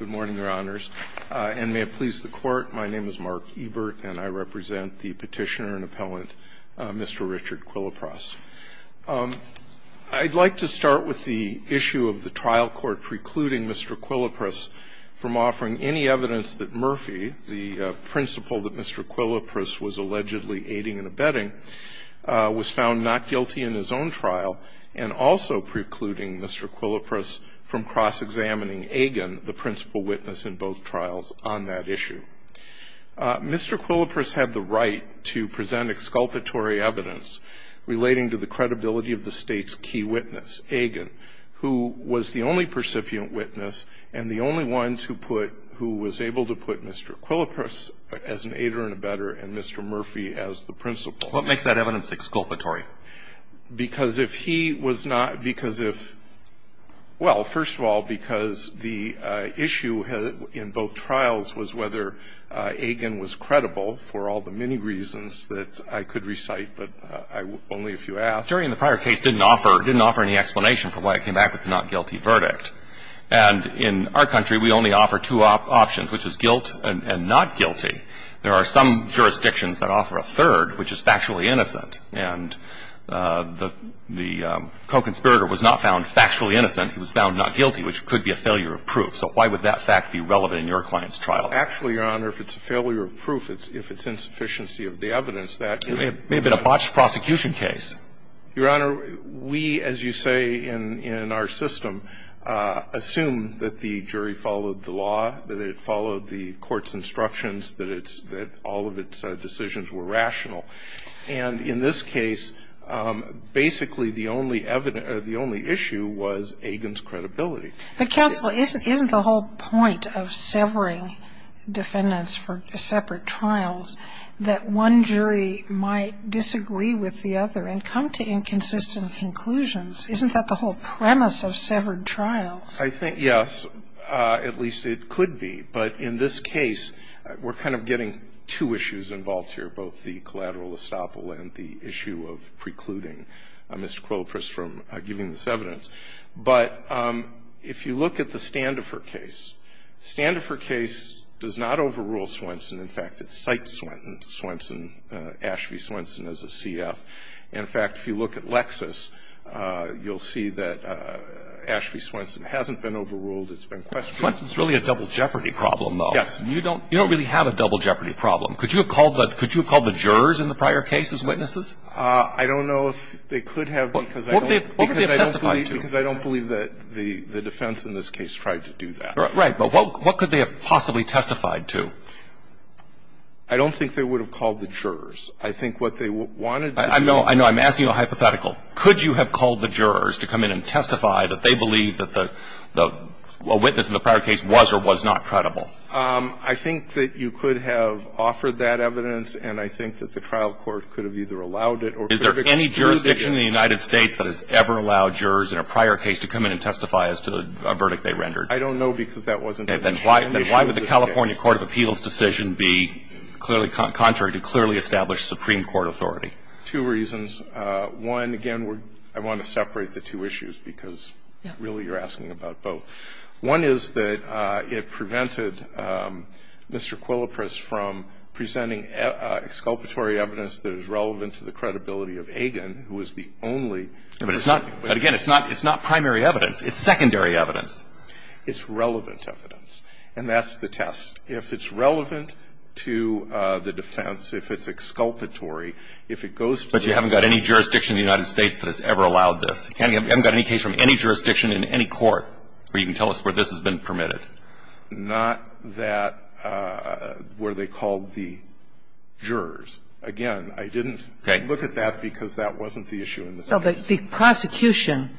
Good morning, Your Honors, and may it please the Court, my name is Mark Ebert and I represent the petitioner and appellant, Mr. Richard Quilopras. I'd like to start with the issue of the trial court precluding Mr. Quilopras from offering any evidence that Murphy, the principal that Mr. Quilopras was allegedly aiding and abetting, was found not guilty in his own trial, and also precluding Mr. Quilopras from cross-examining Agin, the principal witness in both trials on that issue. Mr. Quilopras had the right to present exculpatory evidence relating to the credibility of the state's key witness, Agin, who was the only percipient witness and the only one to put who was able to put Mr. Quilopras as an aider and abetter and Mr. Murphy as the principal. What makes that evidence exculpatory? Because if he was not – because if – well, first of all, because the issue in both trials was whether Agin was credible, for all the many reasons that I could recite, but I – only if you ask. The jury in the prior case didn't offer – didn't offer any explanation for why it came back with a not guilty verdict. And in our country, we only offer two options, which is guilt and not guilty. There are some jurisdictions that offer a third, which is factually innocent. And the co-conspirator was not found factually innocent. He was found not guilty, which could be a failure of proof. So why would that fact be relevant in your client's trial? Actually, Your Honor, if it's a failure of proof, if it's insufficiency of the evidence, that is not – It may have been a botched prosecution case. Your Honor, we, as you say, in our system, assume that the jury followed the law, that it followed the court's instructions, that it's – that all of its decisions were rational. And in this case, basically the only evidence – the only issue was Agin's credibility. But, counsel, isn't the whole point of severing defendants for separate trials that one jury might disagree with the other and come to inconsistent conclusions? Isn't that the whole premise of severed trials? I think, yes, at least it could be. But in this case, we're kind of getting two issues involved here, both the collateral estoppel and the issue of precluding Mr. Quillipris from giving this evidence. But if you look at the Standifer case, the Standifer case does not overrule Swenson. In fact, it cites Swenson, Ashby Swenson, as a CF. In fact, if you look at Lexis, you'll see that Ashby Swenson hasn't been overruled. It's been questioned. Swenson's really a double jeopardy problem, though. Yes. You don't – you don't really have a double jeopardy problem. Could you have called the – could you have called the jurors in the prior cases witnesses? I don't know if they could have because I don't – What could they have testified to? Because I don't believe that the defense in this case tried to do that. Right. But what could they have possibly testified to? I don't think they would have called the jurors. I think what they wanted to do – I know. I know. I'm asking you a hypothetical. Could you have called the jurors to come in and testify that they believe that the witness in the prior case was or was not credible? I think that you could have offered that evidence, and I think that the trial court could have either allowed it or could have excluded it. Is there any jurisdiction in the United States that has ever allowed jurors in a prior case to come in and testify as to a verdict they rendered? I don't know because that wasn't an issue in this case. And why would the California court of appeals decision be clearly contrary to clearly established Supreme Court authority? Two reasons. One, again, I want to separate the two issues because really you're asking about both. One is that it prevented Mr. Quillipris from presenting exculpatory evidence that is relevant to the credibility of Agin, who is the only person who could have testified. But again, it's not primary evidence. It's secondary evidence. It's relevant evidence, and that's the test. If it's relevant to the defense, if it's exculpatory, if it goes to the defense But you haven't got any jurisdiction in the United States that has ever allowed this. You haven't got any case from any jurisdiction in any court where you can tell us where this has been permitted. Not that where they called the jurors. Again, I didn't look at that because that wasn't the issue in this case. But the prosecution,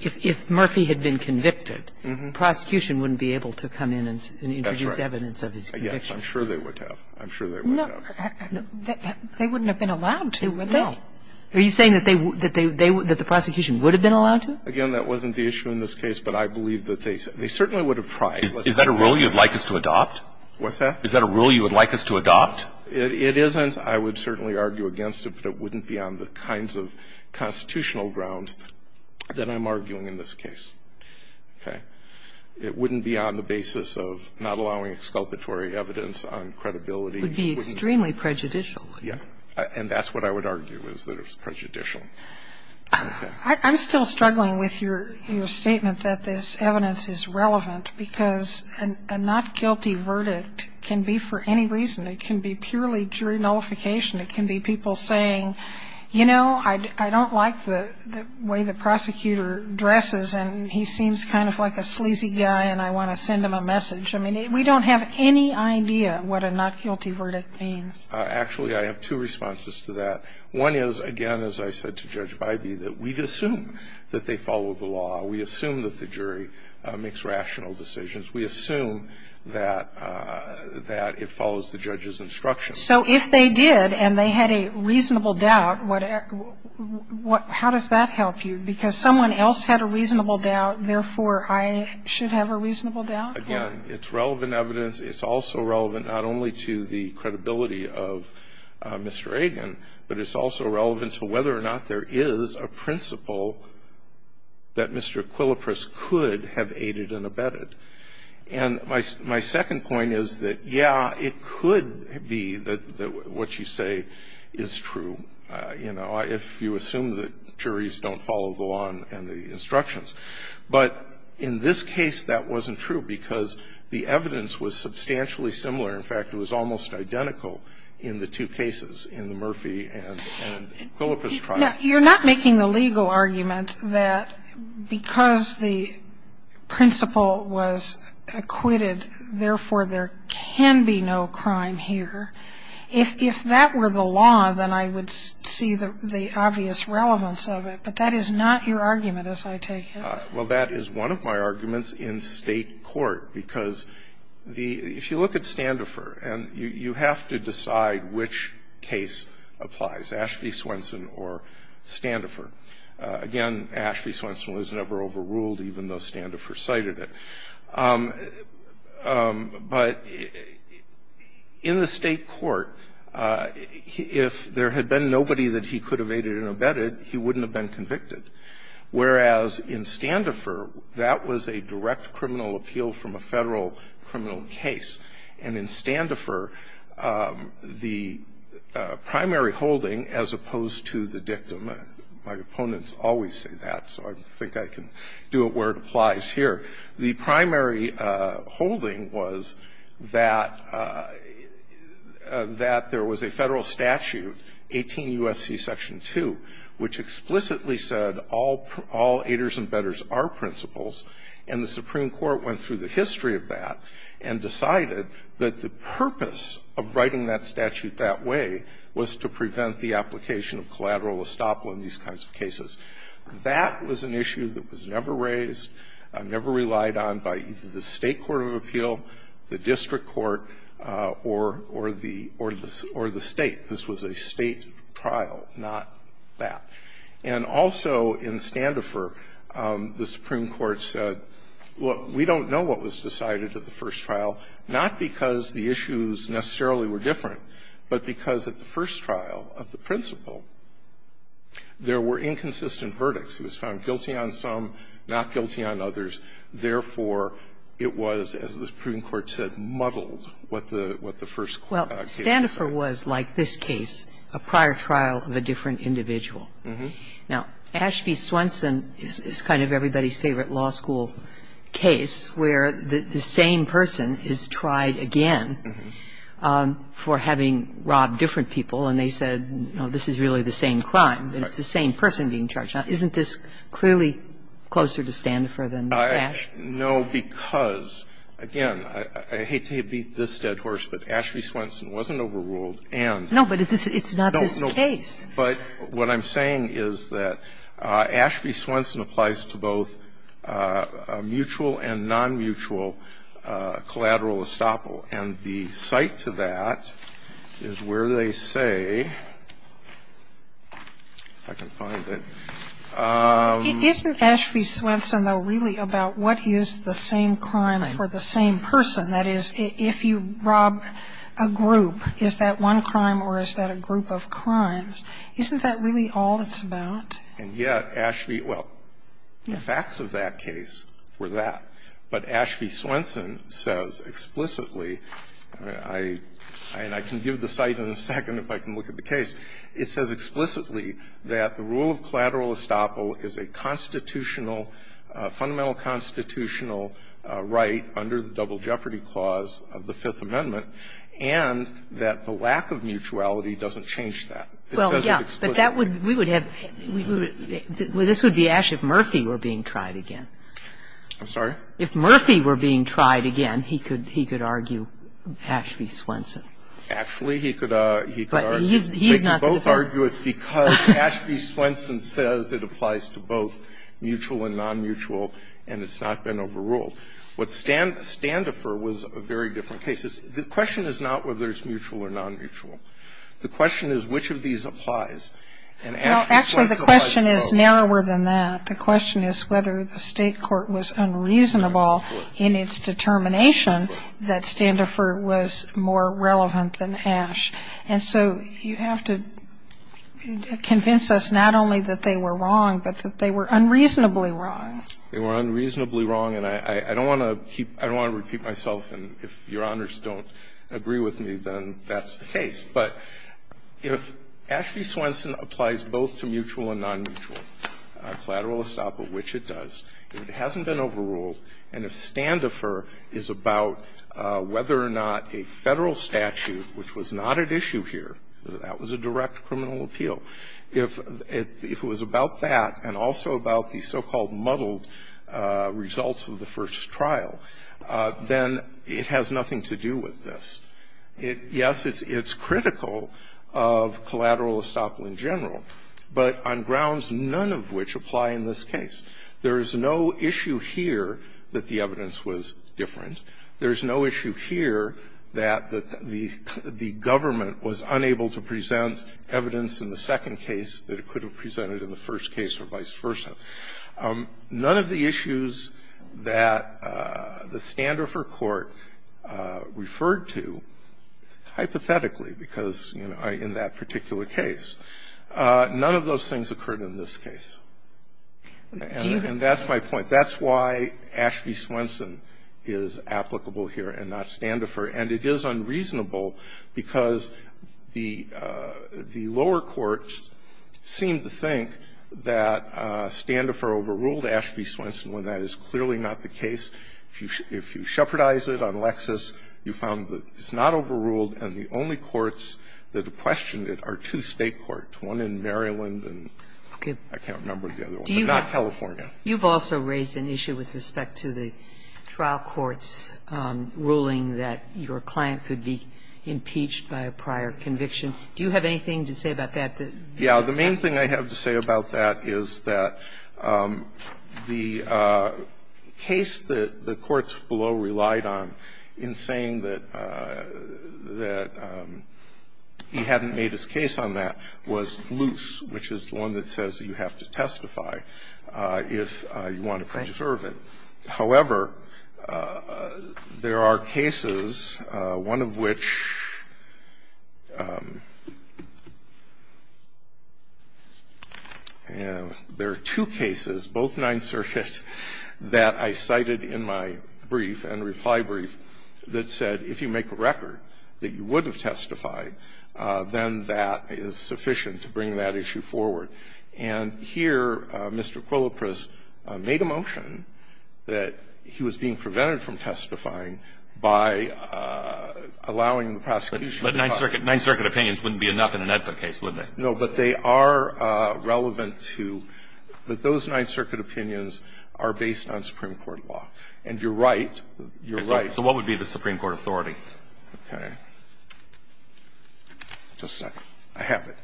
if Murphy had been convicted, the prosecution wouldn't be able to come in and introduce evidence. I'm sure they would have. I'm sure they would have. They wouldn't have been allowed to, would they? Are you saying that they would, that the prosecution would have been allowed to? Again, that wasn't the issue in this case, but I believe that they certainly would have tried. Is that a rule you would like us to adopt? What's that? Is that a rule you would like us to adopt? It isn't. I would certainly argue against it, but it wouldn't be on the kinds of constitutional grounds that I'm arguing in this case. Okay? It wouldn't be on the basis of not allowing exculpatory evidence on credibility. It would be extremely prejudicial. Yeah. And that's what I would argue, is that it's prejudicial. Okay. I'm still struggling with your statement that this evidence is relevant because a not guilty verdict can be for any reason. It can be purely jury nullification. It can be people saying, you know, I don't like the way the prosecutor dresses and he seems kind of like a sleazy guy and I want to send him a message. I mean, we don't have any idea what a not guilty verdict means. Actually, I have two responses to that. One is, again, as I said to Judge Bybee, that we assume that they follow the law. We assume that the jury makes rational decisions. We assume that it follows the judge's instructions. So if they did and they had a reasonable doubt, how does that help you? Because someone else had a reasonable doubt, therefore, I should have a reasonable doubt? Again, it's relevant evidence. It's also relevant not only to the credibility of Mr. Agin, but it's also relevant to whether or not there is a principle that Mr. Quillipris could have aided and abetted. And my second point is that, yeah, it could be that what you say is true. And, you know, if you assume that juries don't follow the law and the instructions. But in this case, that wasn't true, because the evidence was substantially similar. In fact, it was almost identical in the two cases, in the Murphy and Quillipris trial. Sotomayor You're not making the legal argument that because the principle was acquitted, therefore, there can be no crime here. If that were the law, then I would see the obvious relevance of it. But that is not your argument, as I take it. Carvin Well, that is one of my arguments in State court, because the – if you look at Standifer, and you have to decide which case applies, Ashby-Swenson or Standifer. Again, Ashby-Swenson was never overruled, even though Standifer cited it. But in the State court, if there had been nobody that he could have aided and abetted, he wouldn't have been convicted. Whereas in Standifer, that was a direct criminal appeal from a Federal criminal case. And in Standifer, the primary holding, as opposed to the dictum, my opponents always say that, so I think I can do it where it applies here. The primary holding was that there was a Federal statute, 18 U.S.C. Section 2, which explicitly said all aiders and bettors are principals, and the Supreme Court went through the history of that and decided that the purpose of writing that statute that way was to prevent the application of collateral estoppel in these kinds of cases. That was an issue that was never raised, never relied on by the State court of appeal, the district court, or the State. This was a State trial, not that. And also in Standifer, the Supreme Court said, look, we don't know what was decided at the first trial, not because the issues necessarily were different, but because at the first trial of the principal, there were inconsistent verdicts. It was found guilty on some, not guilty on others. Therefore, it was, as the Supreme Court said, muddled, what the first case was. Well, Standifer was, like this case, a prior trial of a different individual. Now, Ashby-Swenson is kind of everybody's favorite law school case, where the same person is tried again for having robbed different people, and they said, no, this is really the same crime, and it's the same person being charged. Now, isn't this clearly closer to Standifer than to Ash? No, because, again, I hate to beat this dead horse, but Ashby-Swenson wasn't overruled and no, but it's not this case. But what I'm saying is that Ashby-Swenson applies to both a mutual and non-mutual collateral estoppel, and the cite to that is where they say, if I can find it. Isn't Ashby-Swenson, though, really about what is the same crime for the same person? That is, if you rob a group, is that one crime or is that a group of crimes? Isn't that really all it's about? And yet Ashby – well, the facts of that case were that. But Ashby-Swenson says explicitly, and I can give the cite in a second if I can look at the case, it says explicitly that the rule of collateral estoppel is a constitutional – fundamental constitutional right under the Double Jeopardy Clause of the Fifth Amendment, and that the lack of mutuality doesn't change that. It says it explicitly. Well, yes, but that would – we would have – this would be Ash if Murphy were being tried again. I'm sorry? If Murphy were being tried again, he could – he could argue Ashby-Swenson. Actually, he could – he could argue. But he's – he's not going to do it. They can both argue it because Ashby-Swenson says it applies to both mutual and non-mutual, and it's not been overruled. What Standifer was a very different case. The question is not whether it's mutual or non-mutual. The question is which of these applies, and Ashby-Swenson applies to both. Well, actually, the question is narrower than that. The question is whether the State court was unreasonable in its determination that Standifer was more relevant than Ash. And so you have to convince us not only that they were wrong, but that they were unreasonably wrong. They were unreasonably wrong, and I don't want to keep – I don't want to repeat myself, and if Your Honors don't agree with me, then that's the case. But if Ashby-Swenson applies both to mutual and non-mutual, collateral estoppel, which it does, if it hasn't been overruled, and if Standifer is about whether or not a Federal statute, which was not at issue here, that was a direct criminal appeal, if it was about that and also about the so-called muddled results of the first trial, then it has nothing to do with this. It – yes, it's critical of collateral estoppel in general, but on grounds none of which apply in this case. There is no issue here that the evidence was different. There is no issue here that the government was unable to present evidence in the second case that it could have presented in the first case or vice versa. None of the issues that the Standifer court referred to, hypothetically, because, you know, in that particular case, none of those things occurred in this case. And that's my point. That's why Ashby-Swenson is applicable here and not Standifer, and it is unreasonable because the lower courts seem to think that Standifer overruled Ashby-Swenson when that is clearly not the case. If you shepherdize it on Lexis, you found that it's not overruled, and the only courts that have questioned it are two State courts, one in Maryland and I can't remember the other one, but not California. Sotomayor, you've also raised an issue with respect to the trial court's ruling that your client could be impeached by a prior conviction. Do you have anything to say about that? Yeah. The main thing I have to say about that is that the case that the courts below relied on in saying that he hadn't made his case on that was loose, which is the one that says you have to testify. If you want to preserve it. However, there are cases, one of which there are two cases, both Ninth Circuit, that I cited in my brief and reply brief that said if you make a record that you have to testify, you have to testify, you have to testify, you have to testify. And I think that's the case that Mr. Quillipris made a motion that he was being prevented from testifying by allowing the prosecution to testify. But Ninth Circuit opinions wouldn't be enough in an EDPA case, would they? No, but they are relevant to those Ninth Circuit opinions are based on Supreme Court law. And you're right, you're right. So what would be the Supreme Court authority? Okay. Just a second. I have it.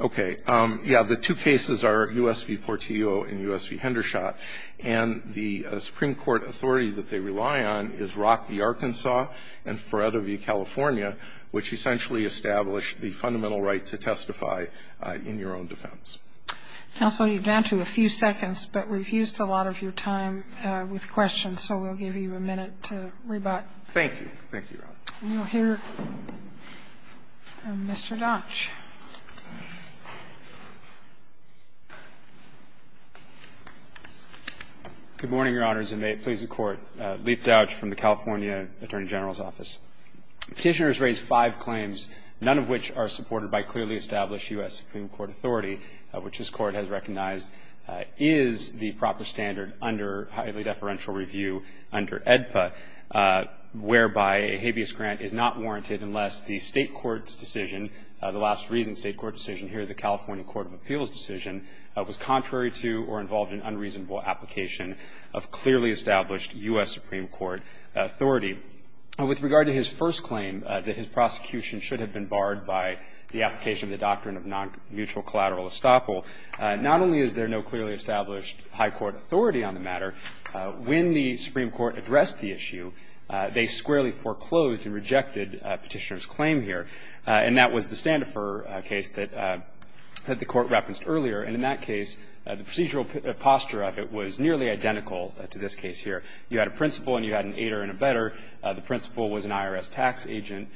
Okay. Yeah, the two cases are U.S. v. Portillo and U.S. v. Hendershot. And the Supreme Court authority that they rely on is Rock v. Arkansas and Feretta v. California, which essentially establish the fundamental right to testify in your own defense. Counsel, you're down to a few seconds, but we've used a lot of your time with questions, so we'll give you a minute to rebut. Thank you. Thank you, Your Honor. We will hear from Mr. Dodge. Good morning, Your Honors, and may it please the Court. Leif Dodge from the California Attorney General's Office. Petitioners raised five claims, none of which are supported by clearly established U.S. Supreme Court authority, which this Court has recognized is the proper standard under highly deferential review under AEDPA, whereby a habeas grant is not warranted unless the State court's decision, the last reason State court decision here, the California Court of Appeals decision, was contrary to or involved in unreasonable application of clearly established U.S. Supreme Court authority. With regard to his first claim, that his prosecution should have been barred by the application of the doctrine of non-mutual collateral estoppel, not only is there no clearly established high court authority on the matter, when the Supreme Court addressed the issue, they squarely foreclosed and rejected Petitioner's claim here. And that was the Standefer case that the Court referenced earlier. And in that case, the procedural posture of it was nearly identical to this case here. The principal was an IRS tax agent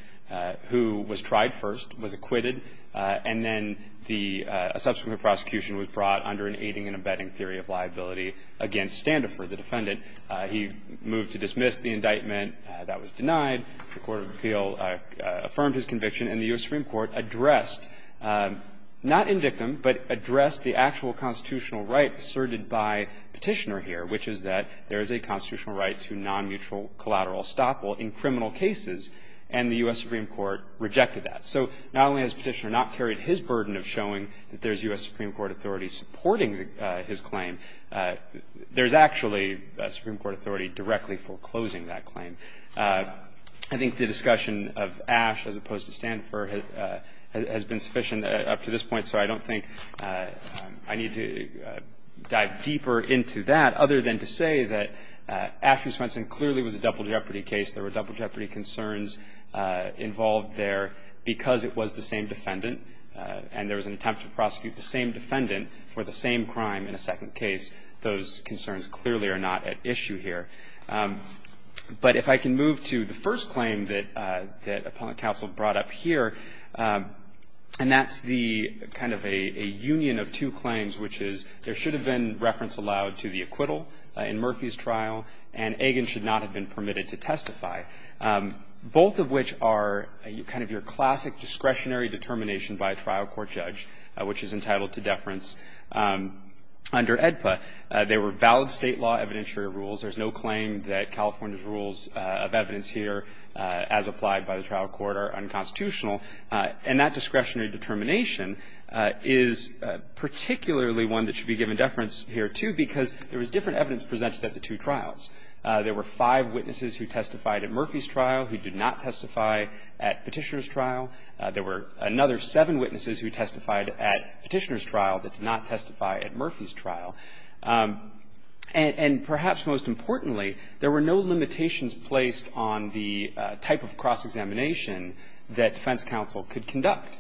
who was tried first, was acquitted, and then a subsequent prosecution was brought under an aiding and abetting theory of liability against Standefer, the defendant. He moved to dismiss the indictment. That was denied. The Court of Appeal affirmed his conviction, and the U.S. Supreme Court addressed, not in dictum, but addressed the actual constitutional right asserted by Petitioner here, which is that there is a constitutional right to non-mutual collateral estoppel in criminal cases, and the U.S. Supreme Court rejected that. So not only has Petitioner not carried his burden of showing that there is U.S. Supreme Court authority supporting his claim, there is actually a Supreme Court authority directly foreclosing that claim. I think the discussion of Ash as opposed to Standefer has been sufficient up to this point, so I don't think I need to dive deeper into that, other than to say that Ash is a double jeopardy case, there were double jeopardy concerns involved there because it was the same defendant, and there was an attempt to prosecute the same defendant for the same crime in a second case. Those concerns clearly are not at issue here. But if I can move to the first claim that Appellant Counsel brought up here, and that's the kind of a union of two claims, which is there should have been reference allowed to the acquittal in Murphy's trial, and Agin should not have been permitted to testify, both of which are kind of your classic discretionary determination by a trial court judge, which is entitled to deference under AEDPA. They were valid state law evidentiary rules. There's no claim that California's rules of evidence here, as applied by the trial court, are unconstitutional. And that discretionary determination is particularly one that should be given reference here, too, because there was different evidence presented at the two trials. There were five witnesses who testified at Murphy's trial who did not testify at Petitioner's trial. There were another seven witnesses who testified at Petitioner's trial that did not testify at Murphy's trial. And perhaps most importantly, there were no limitations placed on the type of cross-examination that defense counsel could conduct.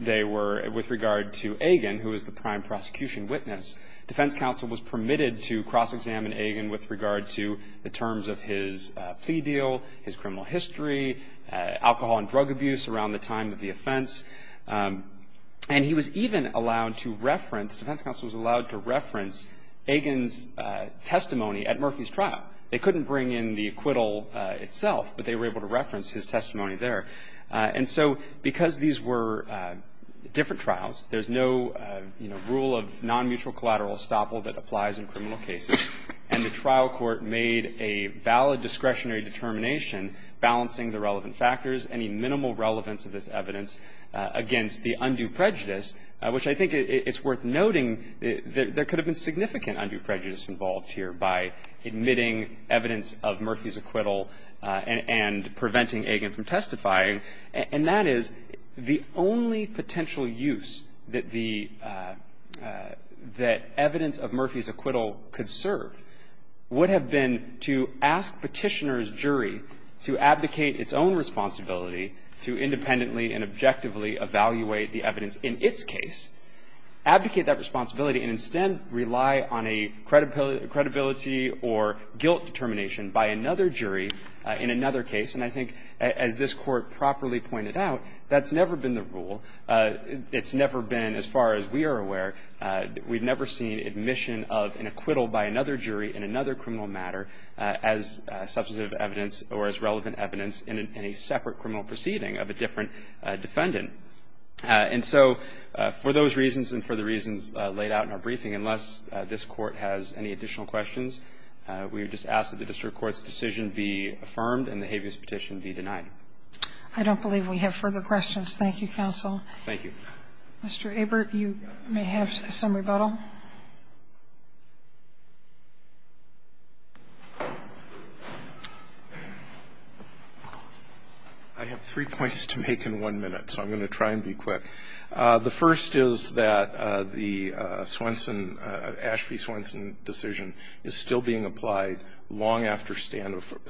They were, with regard to Agin, who was the prime prosecution witness, defense counsel was permitted to cross-examine Agin with regard to the terms of his plea deal, his criminal history, alcohol and drug abuse around the time of the offense. And he was even allowed to reference, defense counsel was allowed to reference Agin's testimony at Murphy's trial. They couldn't bring in the acquittal itself, but they were able to reference his testimony there. And so because these were different trials, there's no rule of non-mutual collateral estoppel that applies in criminal cases, and the trial court made a valid discretionary determination balancing the relevant factors, any minimal relevance of this evidence against the undue prejudice, which I think it's worth noting there could have been significant undue prejudice involved here by admitting evidence of Murphy's acquittal and preventing Agin from testifying. And that is the only potential use that the – that evidence of Murphy's acquittal could serve would have been to ask Petitioner's jury to advocate its own responsibility to independently and objectively evaluate the evidence in its case, advocate that responsibility and instead rely on a credibility or guilt determination by another jury in another case. And I think as this Court properly pointed out, that's never been the rule. It's never been, as far as we are aware, we've never seen admission of an acquittal by another jury in another criminal matter as substantive evidence or as relevant evidence in a separate criminal proceeding of a different defendant. And so for those reasons and for the reasons laid out in our briefing, unless this Court's decision be affirmed and the habeas petition be denied. I don't believe we have further questions. Thank you, counsel. Thank you. Mr. Abert, you may have some rebuttal. I have three points to make in one minute, so I'm going to try and be quick. The first is that the Swenson, Ashby-Swenson decision is still being applied long after standoffer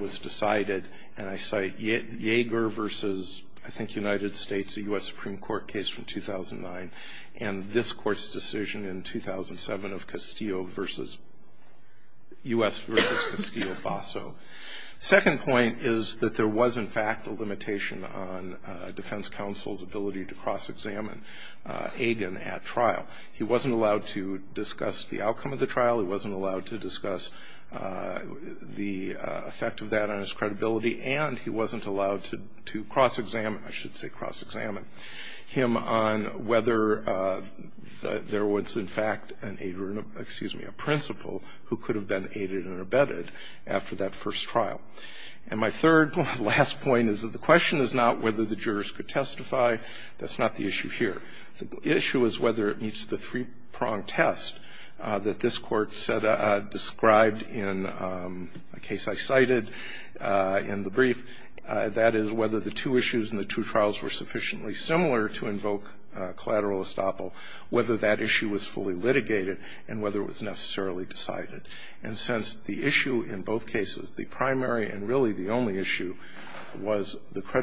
was decided, and I cite Yeager versus, I think, United States, a U.S. Supreme Court case from 2009, and this Court's decision in 2007 of Castillo versus U.S. versus Castillo-Basso. Second point is that there was, in fact, a limitation on defense counsel's ability to cross-examine Agin at trial. He wasn't allowed to discuss the effect of that on his credibility, and he wasn't allowed to cross-examine, I should say cross-examine, him on whether there was, in fact, an aider or an ab-excuse me, a principal who could have been aided and abetted after that first trial. And my third last point is that the question is not whether the jurors could testify. That's not the issue here. The issue is whether it meets the three-pronged test that this Court said described in a case I cited in the brief, that is, whether the two issues in the two trials were sufficiently similar to invoke collateral estoppel, whether that issue was fully litigated, and whether it was necessarily decided. And since the issue in both cases, the primary and really the only issue, was the one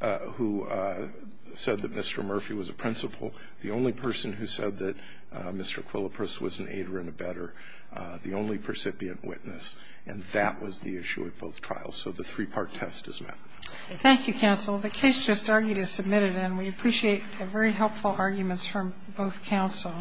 that said that Mr. Murphy was a principal, the only person who said that Mr. Quillipris was an aider and abetter, the only recipient witness, and that was the issue at both trials, so the three-part test is met. Thank you, counsel. The case just argued is submitted, and we appreciate very helpful arguments from both counsel.